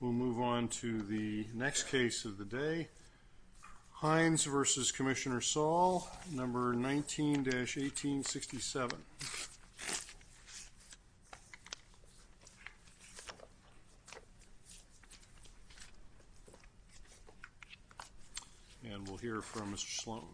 We'll move on to the next case of the day. Hines v. Commissioner Saul, No. 19-1867. And we'll hear from Mr. Sloan.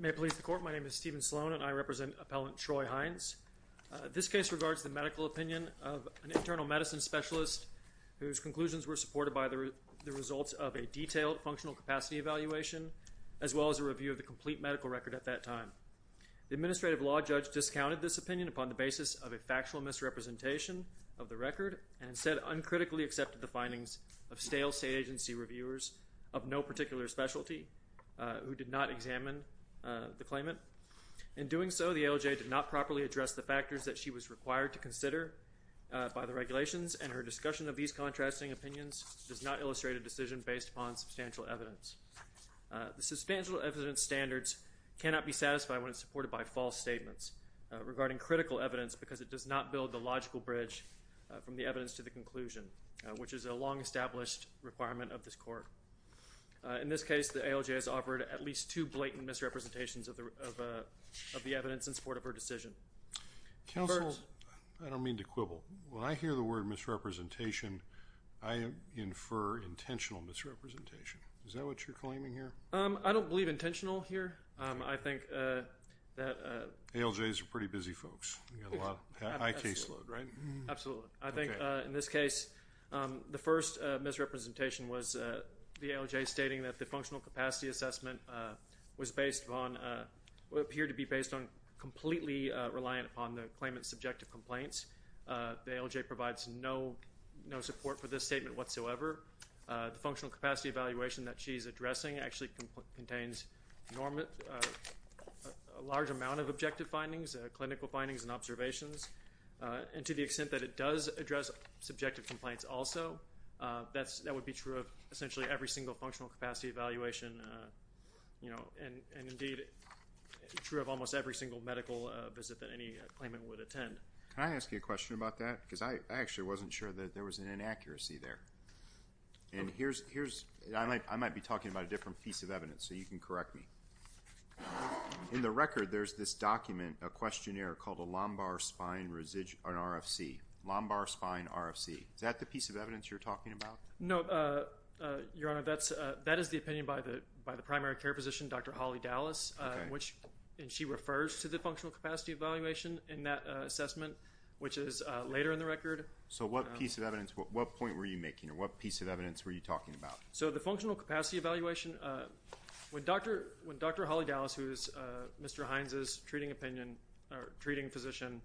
May it please the Court, my name is Stephen Sloan and I represent Appellant Troy Hines. This case regards the medical opinion of an internal medicine specialist whose conclusions were supported by the results of a detailed functional capacity evaluation as well as a review of the complete medical record at that time. The administrative law judge discounted this opinion upon the basis of a factual misrepresentation of the record and instead uncritically accepted the findings of stale state agency reviewers of no particular specialty who did not examine the claimant. In doing so, the ALJ did not properly address the factors that she was required to consider by the regulations and her discussion of these contrasting opinions does not illustrate a decision based upon substantial evidence. The substantial evidence standards cannot be satisfied when it's supported by false statements regarding critical evidence because it does not build the logical bridge from the evidence to the conclusion, which is a long-established requirement of this Court. In this case, the ALJ has offered at least two blatant misrepresentations of the evidence in support of her decision. Counsel, I don't mean to quibble. When I hear the word misrepresentation, I infer intentional misrepresentation. Is that what you're claiming here? I don't believe intentional here. I think that... ALJs are pretty busy folks. You've got a lot of high caseload, right? Absolutely. I think in this case, the first misrepresentation was the ALJ stating that the functional capacity assessment was based on, appeared to be based on, completely reliant upon the claimant's subjective complaints. The ALJ provides no support for this statement whatsoever. The functional capacity evaluation that she's addressing actually contains a large amount of objective findings, clinical findings and observations. And to the extent that it does address subjective complaints also, that would be true of essentially every single functional capacity evaluation, you know, and indeed true of almost every single medical visit that any claimant would attend. Can I ask you a question about that? Because I actually wasn't sure that there was an inaccuracy there. And here's... I might be talking about a different piece of evidence, so you can correct me. In the record, there's this document, a questionnaire called a lumbar spine RFC. Lumbar spine RFC. Is that the piece of evidence you're talking about? No, Your Honor. That is the opinion by the primary care physician, Dr. Holly Dallas, and she refers to the functional capacity evaluation in that assessment, which is later in the record. So what piece of evidence, what point were you making, or what piece of evidence were you talking about? So the functional capacity evaluation, when Dr. Holly Dallas, who is Mr. Hines's treating opinion or treating physician,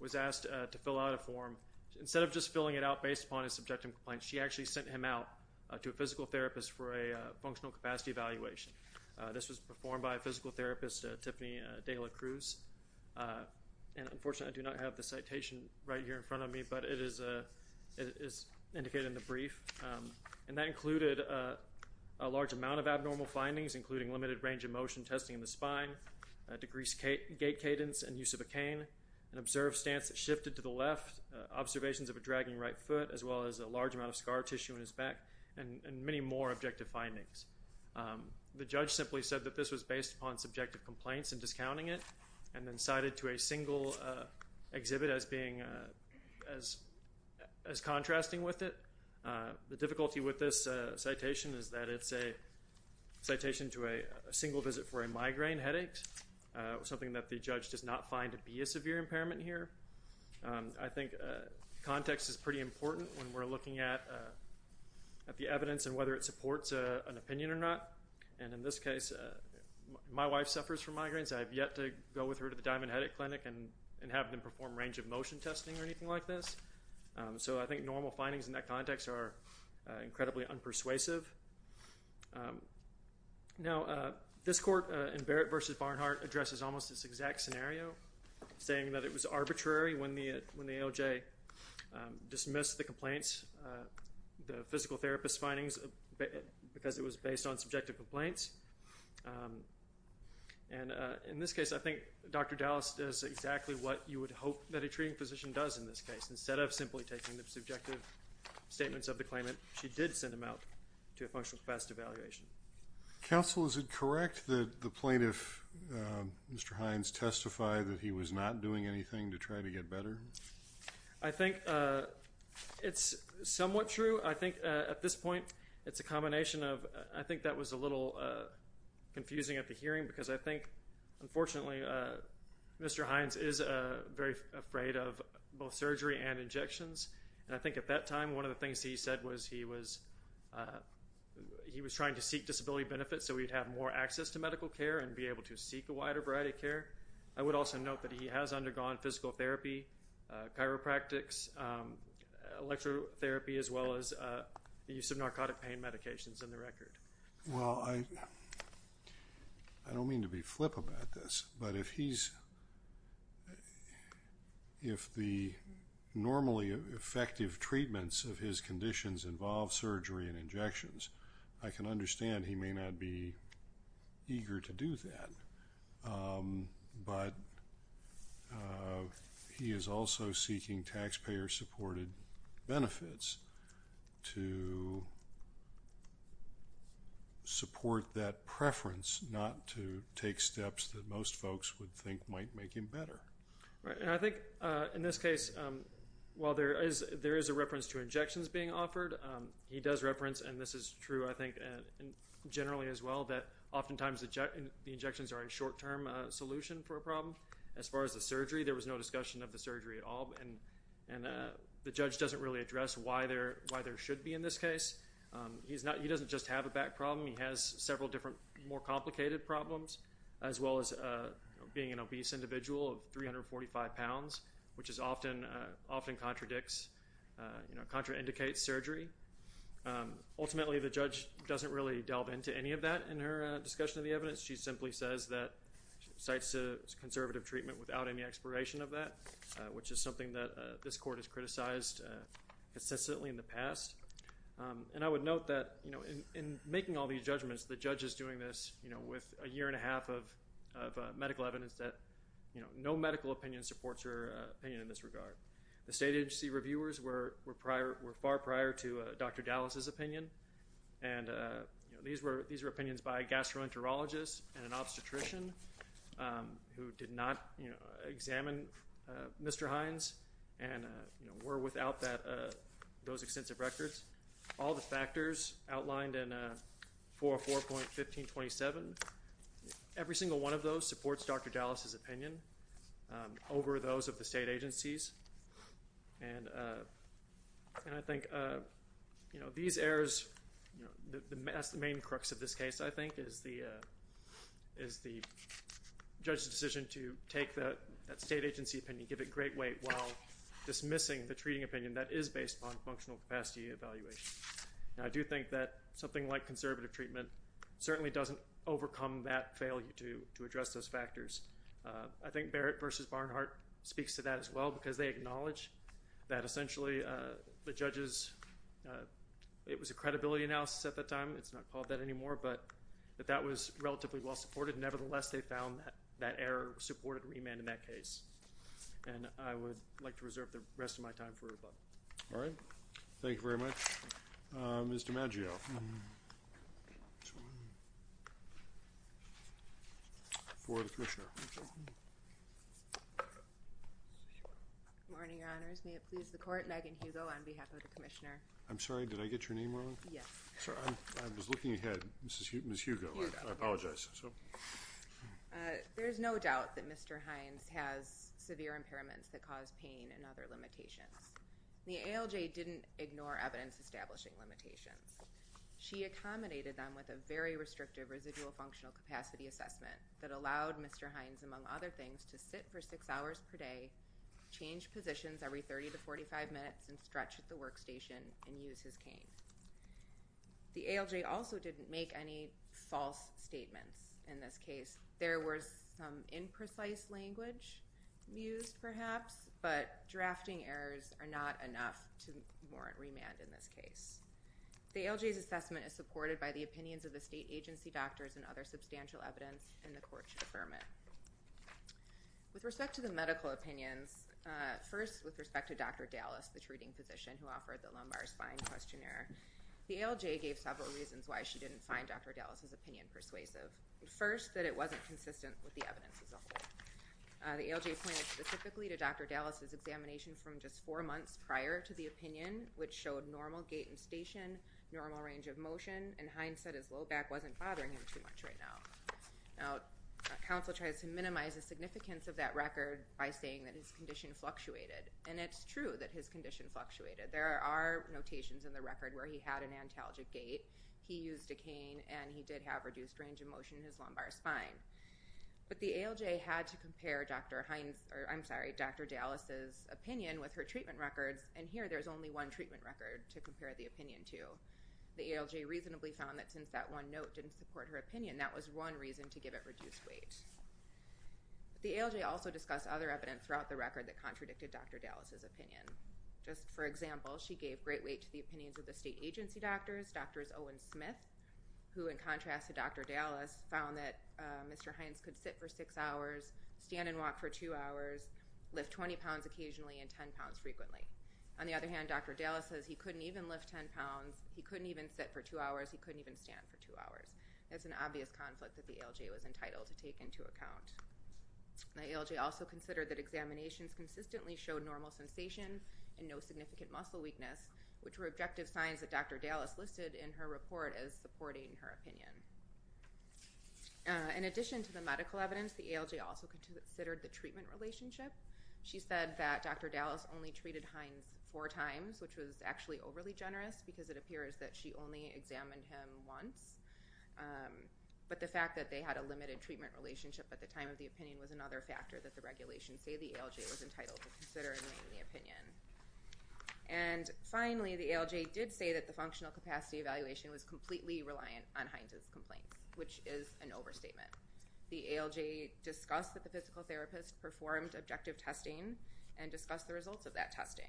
was asked to fill out a form, instead of just filling it out based upon his subjective complaints, she actually sent him out to a physical therapist for a functional capacity evaluation. This was performed by a physical therapist, Tiffany Dela Cruz, and unfortunately I do not have the citation right here in front of me, but it is indicated in the brief. And that included a large amount of abnormal findings, including limited range of motion testing in the spine, decreased gait cadence and use of a cane, an observed stance that shifted to the left, observations of a dragging right foot, as well as a large amount of scar tissue in his back, and many more objective findings. The judge simply said that this was based upon subjective complaints and discounting it, and then cited to a single exhibit as contrasting with it. The difficulty with this citation is that it's a citation to a single visit for a migraine headache, something that the judge does not find to be a severe impairment here. I think context is pretty important when we're looking at the evidence and whether it supports an opinion or not. And in this case, my wife suffers from migraines. I have yet to go with her to the Diamond Headache Clinic and have them perform range of motion testing or anything like this. So I think normal findings in that context are incredibly unpersuasive. Now, this court in Barrett v. Barnhart addresses almost this exact scenario, saying that it was arbitrary when the AOJ dismissed the complaints, the physical therapist findings, because it was based on subjective complaints. And in this case, I think Dr. Dallas does exactly what you would hope that a treating physician does in this case. Instead of simply taking the subjective statements of the claimant, she did send him out to a functional capacity evaluation. Counsel, is it correct that the plaintiff, Mr. Hines, testified that he was not doing anything to try to get better? I think it's somewhat true. I think at this point, it's a combination of—I think that was a little confusing at the hearing, because I think, unfortunately, Mr. Hines is very afraid of both surgery and injections, and I think at that time, one of the things he said was he was trying to seek disability benefits so he'd have more access to medical care and be able to seek a wider variety of care. I would also note that he has undergone physical therapy, chiropractics, electrotherapy, as well as the use of narcotic pain medications on the record. Well, I don't mean to be flip about this, but if he's—if the normally effective treatments of his conditions involve surgery and injections, I can understand he may not be eager to do to support that preference not to take steps that most folks would think might make him better. And I think, in this case, while there is a reference to injections being offered, he does reference—and this is true, I think, generally as well—that oftentimes the injections are a short-term solution for a problem. As far as the surgery, there was no discussion of the surgery at all, and the judge doesn't really address why there should be in this case. He's not—he doesn't just have a back problem. He has several different, more complicated problems, as well as being an obese individual of 345 pounds, which is often—often contradicts, you know, contraindicates surgery. Ultimately, the judge doesn't really delve into any of that in her discussion of the evidence. She simply says that—cites conservative treatment without any exploration of that, which is something that this court has criticized consistently in the past. And I would note that, you know, in making all these judgments, the judge is doing this, you know, with a year and a half of medical evidence that, you know, no medical opinion supports her opinion in this regard. The state agency reviewers were prior—were far prior to Dr. Dallas's opinion, and, you know, these were—these were opinions by a gastroenterologist and an obstetrician who did not, you know, examine Mr. Hines and, you know, were without that—those extensive records. All the factors outlined in 404.1527, every single one of those supports Dr. Dallas's opinion over those of the state agencies. And I think, you know, these errors—you know, the main crux of this case, I think, is the—is the judge's decision to take that state agency opinion, give it great weight while dismissing the treating opinion that is based upon functional capacity evaluation. Now, I do think that something like conservative treatment certainly doesn't overcome that failure to address those factors. I think Barrett v. Barnhart speaks to that as well because they acknowledge that essentially the judge's—it was a credibility analysis at that time. It's not called that anymore, but that that was relatively well supported. Nevertheless, they found that that error supported remand in that case. And I would like to reserve the rest of my time for rebuttal. All right. Thank you very much. Mr. Maggio. For the Commissioner. Good morning, Your Honors. May it please the Court. Megan Hugo on behalf of the Commissioner. I'm sorry. Did I get your name wrong? Yes. Sorry, I was looking ahead, Ms. Hugo. I apologize. There's no doubt that Mr. Hines has severe impairments that cause pain and other limitations. The ALJ didn't ignore evidence establishing limitations. She accommodated them with a very restrictive residual functional capacity assessment that allowed Mr. Hines, among other things, to sit for six hours per day, change positions every 30 to 45 minutes, and stretch at the workstation and use his cane. The ALJ also didn't make any false statements in this case. There was some imprecise language used, perhaps, but drafting errors are not enough to warrant remand in this case. The ALJ's assessment is supported by the opinions of the state agency doctors and other substantial evidence, and the Court should affirm it. With respect to the medical opinions, first, with respect to Dr. Dallas, the treating physician who offered the lumbar spine questionnaire, the ALJ gave several reasons why she didn't find Dr. Dallas' opinion persuasive. First, that it wasn't consistent with the evidence as a whole. The ALJ pointed specifically to Dr. Dallas' examination from just four months prior to the opinion, which showed normal gait and station, normal range of motion, and Hines said his low back wasn't bothering him too much right now. Now, counsel tries to minimize the significance of that record by saying that his condition fluctuated, and it's true that his condition fluctuated. There are notations in the record where he had an antalgic gait, he used a cane, and he did have reduced range of motion in his lumbar spine. But the ALJ had to compare Dr. Dallas' opinion with her treatment records, and here there's only one treatment record to compare the opinion to. The ALJ reasonably found that since that one note didn't support her opinion, that was one reason to give it reduced weight. But the ALJ also discussed other evidence throughout the record that contradicted Dr. Dallas' opinion. Just for example, she gave great weight to the opinions of the state agency doctors, Dr. Owen Smith, who in contrast to Dr. Dallas, found that Mr. Hines could sit for six hours, stand and walk for two hours, lift 20 pounds occasionally, and 10 pounds frequently. On the other hand, Dr. Dallas says he couldn't even lift 10 pounds, he couldn't even sit for two hours, he couldn't even stand for two hours. That's an obvious conflict that the ALJ was entitled to take into account. The ALJ also considered that examinations consistently showed normal sensation and no significant muscle weakness, which were objective signs that Dr. Dallas listed in her report as supporting her opinion. In addition to the medical evidence, the ALJ also considered the treatment relationship. She said that Dr. Dallas only treated Hines four times, which was actually overly generous because it appears that she only examined him once. But the fact that they had a limited treatment relationship at the time of the opinion was another factor that the regulations say the ALJ was entitled to consider in making the opinion. And finally, the ALJ did say that the functional capacity evaluation was completely reliant on Hines' complaints, which is an overstatement. The ALJ discussed that the physical therapist performed objective testing and discussed the results of that testing.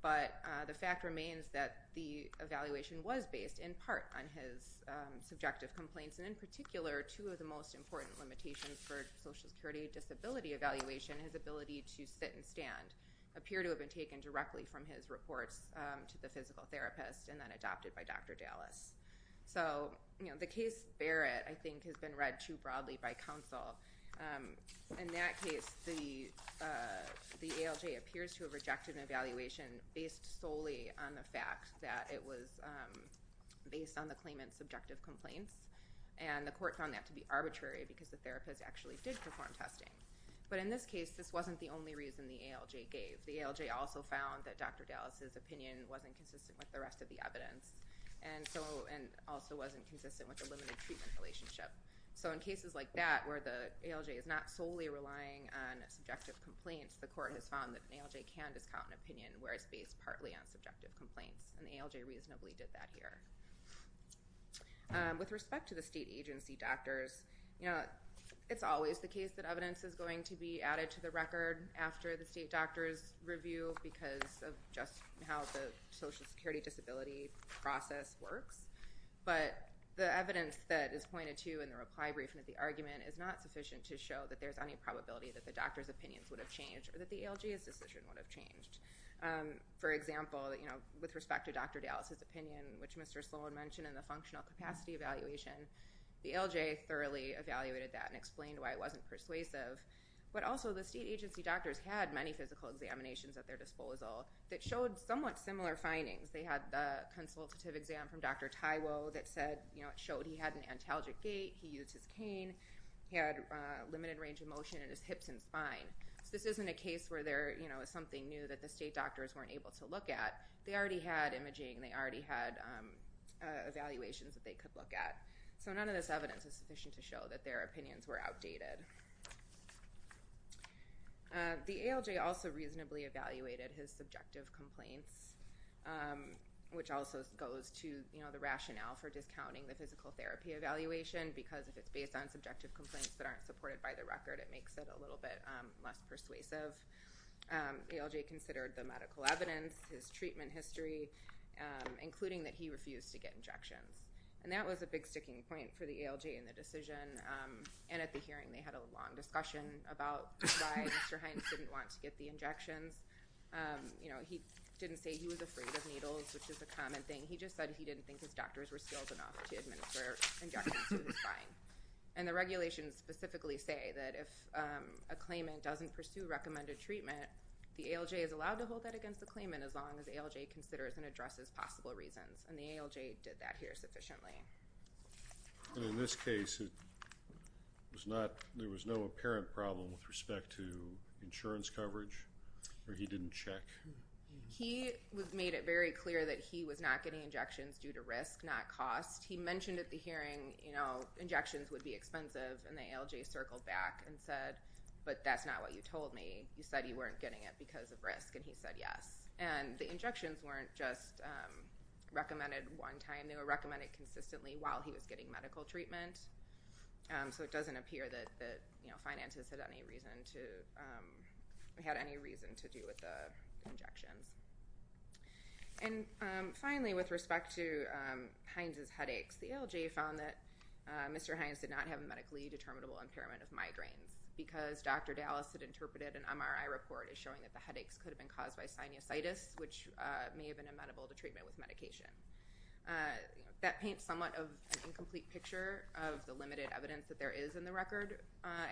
But the fact remains that the evaluation was based in part on his subjective complaints. And in particular, two of the most important limitations for social security disability evaluation, his ability to sit and stand, appear to have been taken directly from his reports to the physical therapist and then adopted by Dr. Dallas. So the case Barrett, I think, has been read too broadly by counsel. In that case, the ALJ appears to have rejected an evaluation based solely on the fact that it was based on the claimant's subjective complaints. And the court found that to be arbitrary because the therapist actually did perform testing. But in this case, this wasn't the only reason the ALJ gave. The ALJ also found that Dr. Dallas's opinion wasn't consistent with the rest of the evidence and also wasn't consistent with the limited treatment relationship. So in cases like that, where the ALJ is not solely relying on subjective complaints, the court has found that an ALJ can discount an opinion where it's based partly on subjective complaints. And the ALJ reasonably did that here. With respect to the state agency doctors, it's always the case that evidence is going to be added to the record after the state doctor's review because of just how the social security disability process works. But the evidence that is pointed to in the reply briefing of the argument is not sufficient to show that there's any probability that the doctor's opinions would have changed or that the ALJ's decision would have changed. For example, with respect to Dr. Dallas's opinion, which Mr. Sloan mentioned in the functional capacity evaluation, the ALJ thoroughly evaluated that and explained why it wasn't persuasive. But also, the state agency doctors had many physical examinations at their disposal that showed somewhat similar findings. They had the consultative exam from Dr. Taiwo that showed he had an antalgic gait, he used his cane, he had limited range of motion in his hips and spine. So this isn't a case where there is something new that the state doctors weren't able to look at. They already had imaging, they already had evaluations that they could look at. So none of this evidence is sufficient to show that their opinions were outdated. The ALJ also reasonably evaluated his subjective complaints, which also goes to the rationale for discounting the physical therapy evaluation because if it's based on subjective complaints that aren't supported by the record, it makes it a little bit less persuasive. ALJ considered the medical evidence, his treatment history, including that he refused to get injections. And that was a big sticking point for the ALJ in the decision. And at the hearing, they had a long discussion about why Mr. Hines didn't want to get the injections. He didn't say he was afraid of needles, which is a common thing. He just said he didn't think his doctors were skilled enough to administer injections to his spine. And the regulations specifically say that if a claimant doesn't pursue recommended treatment, the ALJ is allowed to hold that against the claimant as long as ALJ considers and addresses possible reasons. And the ALJ did that here sufficiently. And in this case, there was no apparent problem with respect to insurance coverage, or he didn't check? He made it very clear that he was not getting injections due to risk, not cost. He mentioned at the hearing injections would be expensive. And the ALJ circled back and said, but that's not what you told me. You said you weren't getting it because of risk. And he said yes. And the injections weren't just recommended one time. They were recommended consistently while he was getting medical treatment. So it doesn't appear that the finances had any reason to do with the injections. And finally, with respect to Hines's headaches, the ALJ found that Mr. Hines did not have a medically determinable impairment of migraines because Dr. Dallas had interpreted an MRI report as showing that the headaches could have been caused by sinusitis, which may have been amenable to treatment with medication. That paints somewhat of an incomplete picture of the limited evidence that there is in the record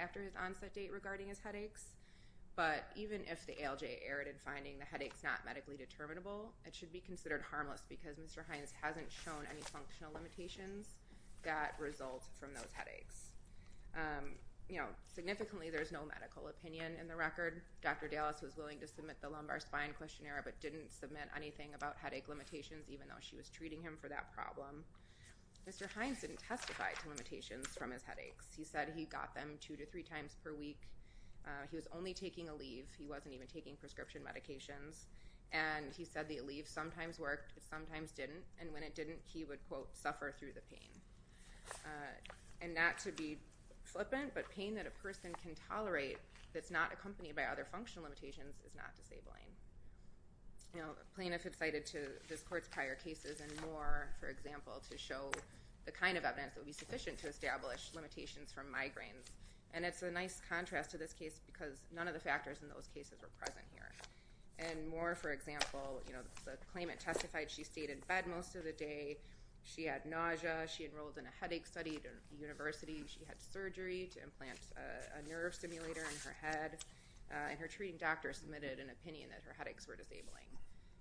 after his onset date regarding his headaches. But even if the ALJ erred in finding the headaches not medically determinable, it should be considered harmless because Mr. Hines hasn't shown any functional limitations that result from those headaches. Significantly, there's no medical opinion in the record. Dr. Dallas was willing to submit the lumbar spine questionnaire but didn't submit anything about headache limitations, even though she was treating him for that problem. Mr. Hines didn't testify to limitations from his headaches. He said he got them two to three times per week. He was only taking Aleve. He wasn't even taking prescription medications. And he said the Aleve sometimes worked, sometimes didn't. And when it didn't, he would, quote, suffer through the pain. And not to be flippant, but pain that a person can tolerate that's not accompanied by other functional limitations is not disabling. Plain if it's cited to this court's prior cases and more, for example, to show the kind of evidence that would be sufficient to establish limitations from migraines. And it's a nice contrast to this case because none of the factors in those cases were present here. And more, for example, the claimant testified she stayed in bed most of the day. She had nausea. She enrolled in a headache study at a university. She had surgery to implant a nerve stimulator in her head. And her treating doctor submitted an opinion that her headaches were disabling.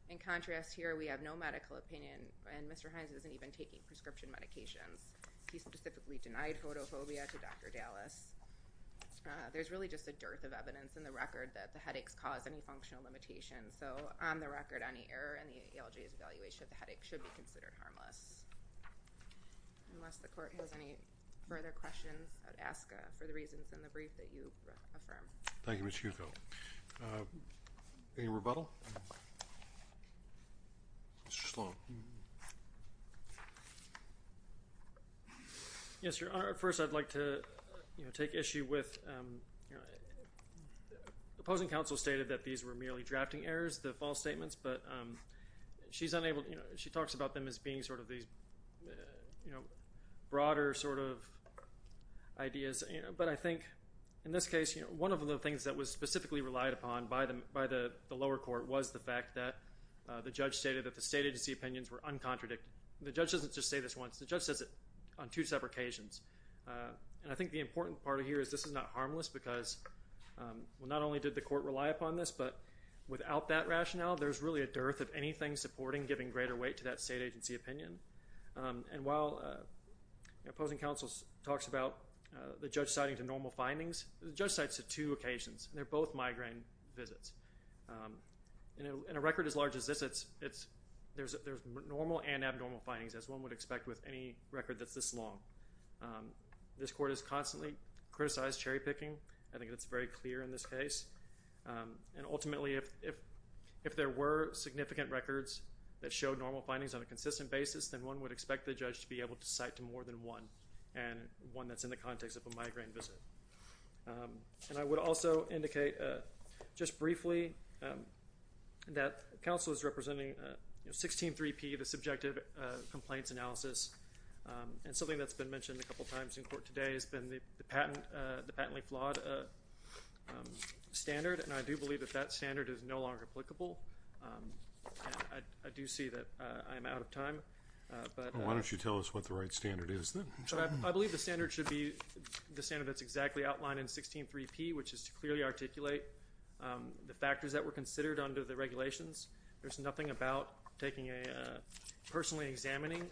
In contrast here, we have no medical opinion. And Mr. Hines isn't even taking prescription medications. He specifically denied photophobia to Dr. Dallas. There's really just a dearth of evidence in the record that the headaches cause any functional limitations. So on the record, any error in the ALJ's evaluation of the headache should be considered harmless. Unless the court has any further questions, I'd ask for the reasons in the brief that you affirm. Thank you, Ms. Hugo. Any rebuttal? Mr. Sloan. Yes, Your Honor. First, I'd like to, you know, take issue with, you know, the opposing counsel stated that these were merely drafting errors, the false statements. But she's unable, you know, she talks about them as being sort of these, you know, broader sort of ideas, you know. But I think in this case, you know, one of the things that was specifically relied upon by the lower court was the fact that the judge stated that the state agency opinions were uncontradicted. The judge doesn't just say this once. The judge says it on two separate occasions. And I think the important part of here is this is not harmless because, well, not only did the court rely upon this, but without that rationale, there's really a dearth of anything supporting giving greater weight to that state agency opinion. And while the opposing counsel talks about the judge citing to normal findings, the judge cites to two occasions, and they're both migraine visits. You know, in a record as large as this, it's, there's normal and abnormal findings, as one would expect with any record that's this long. This court has constantly criticized cherry picking. I think that's very clear in this case. And ultimately, if there were significant records that showed normal findings on a consistent basis, then one would expect the judge to be able to cite to more than one, and one that's in the context of a migraine visit. And I would also indicate just briefly that counsel is representing, you know, 16-3P, the subjective complaints analysis. And something that's been mentioned a couple times in court today has been the patent, the patently flawed standard. And I do believe that that standard is no longer applicable. And I do see that I am out of time. But... Well, why don't you tell us what the right standard is then? But I believe the standard should be the standard that's exactly outlined in 16-3P, which is to clearly articulate the factors that were considered under the regulations. There's nothing about taking a personally examining,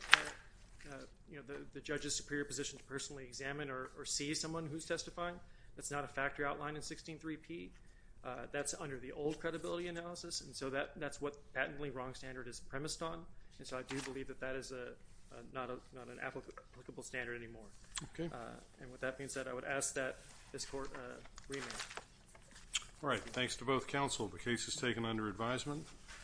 you know, the judge's superior position to personally examine or see someone who's testifying. That's not a factor outlined in 16-3P. That's under the old credibility analysis. And so that's what patently wrong standard is premised on. And so I do believe that that is not an applicable standard anymore. Okay. And with that being said, I would ask that this court remain. All right. Thanks to both counsel. The case is taken under advisement.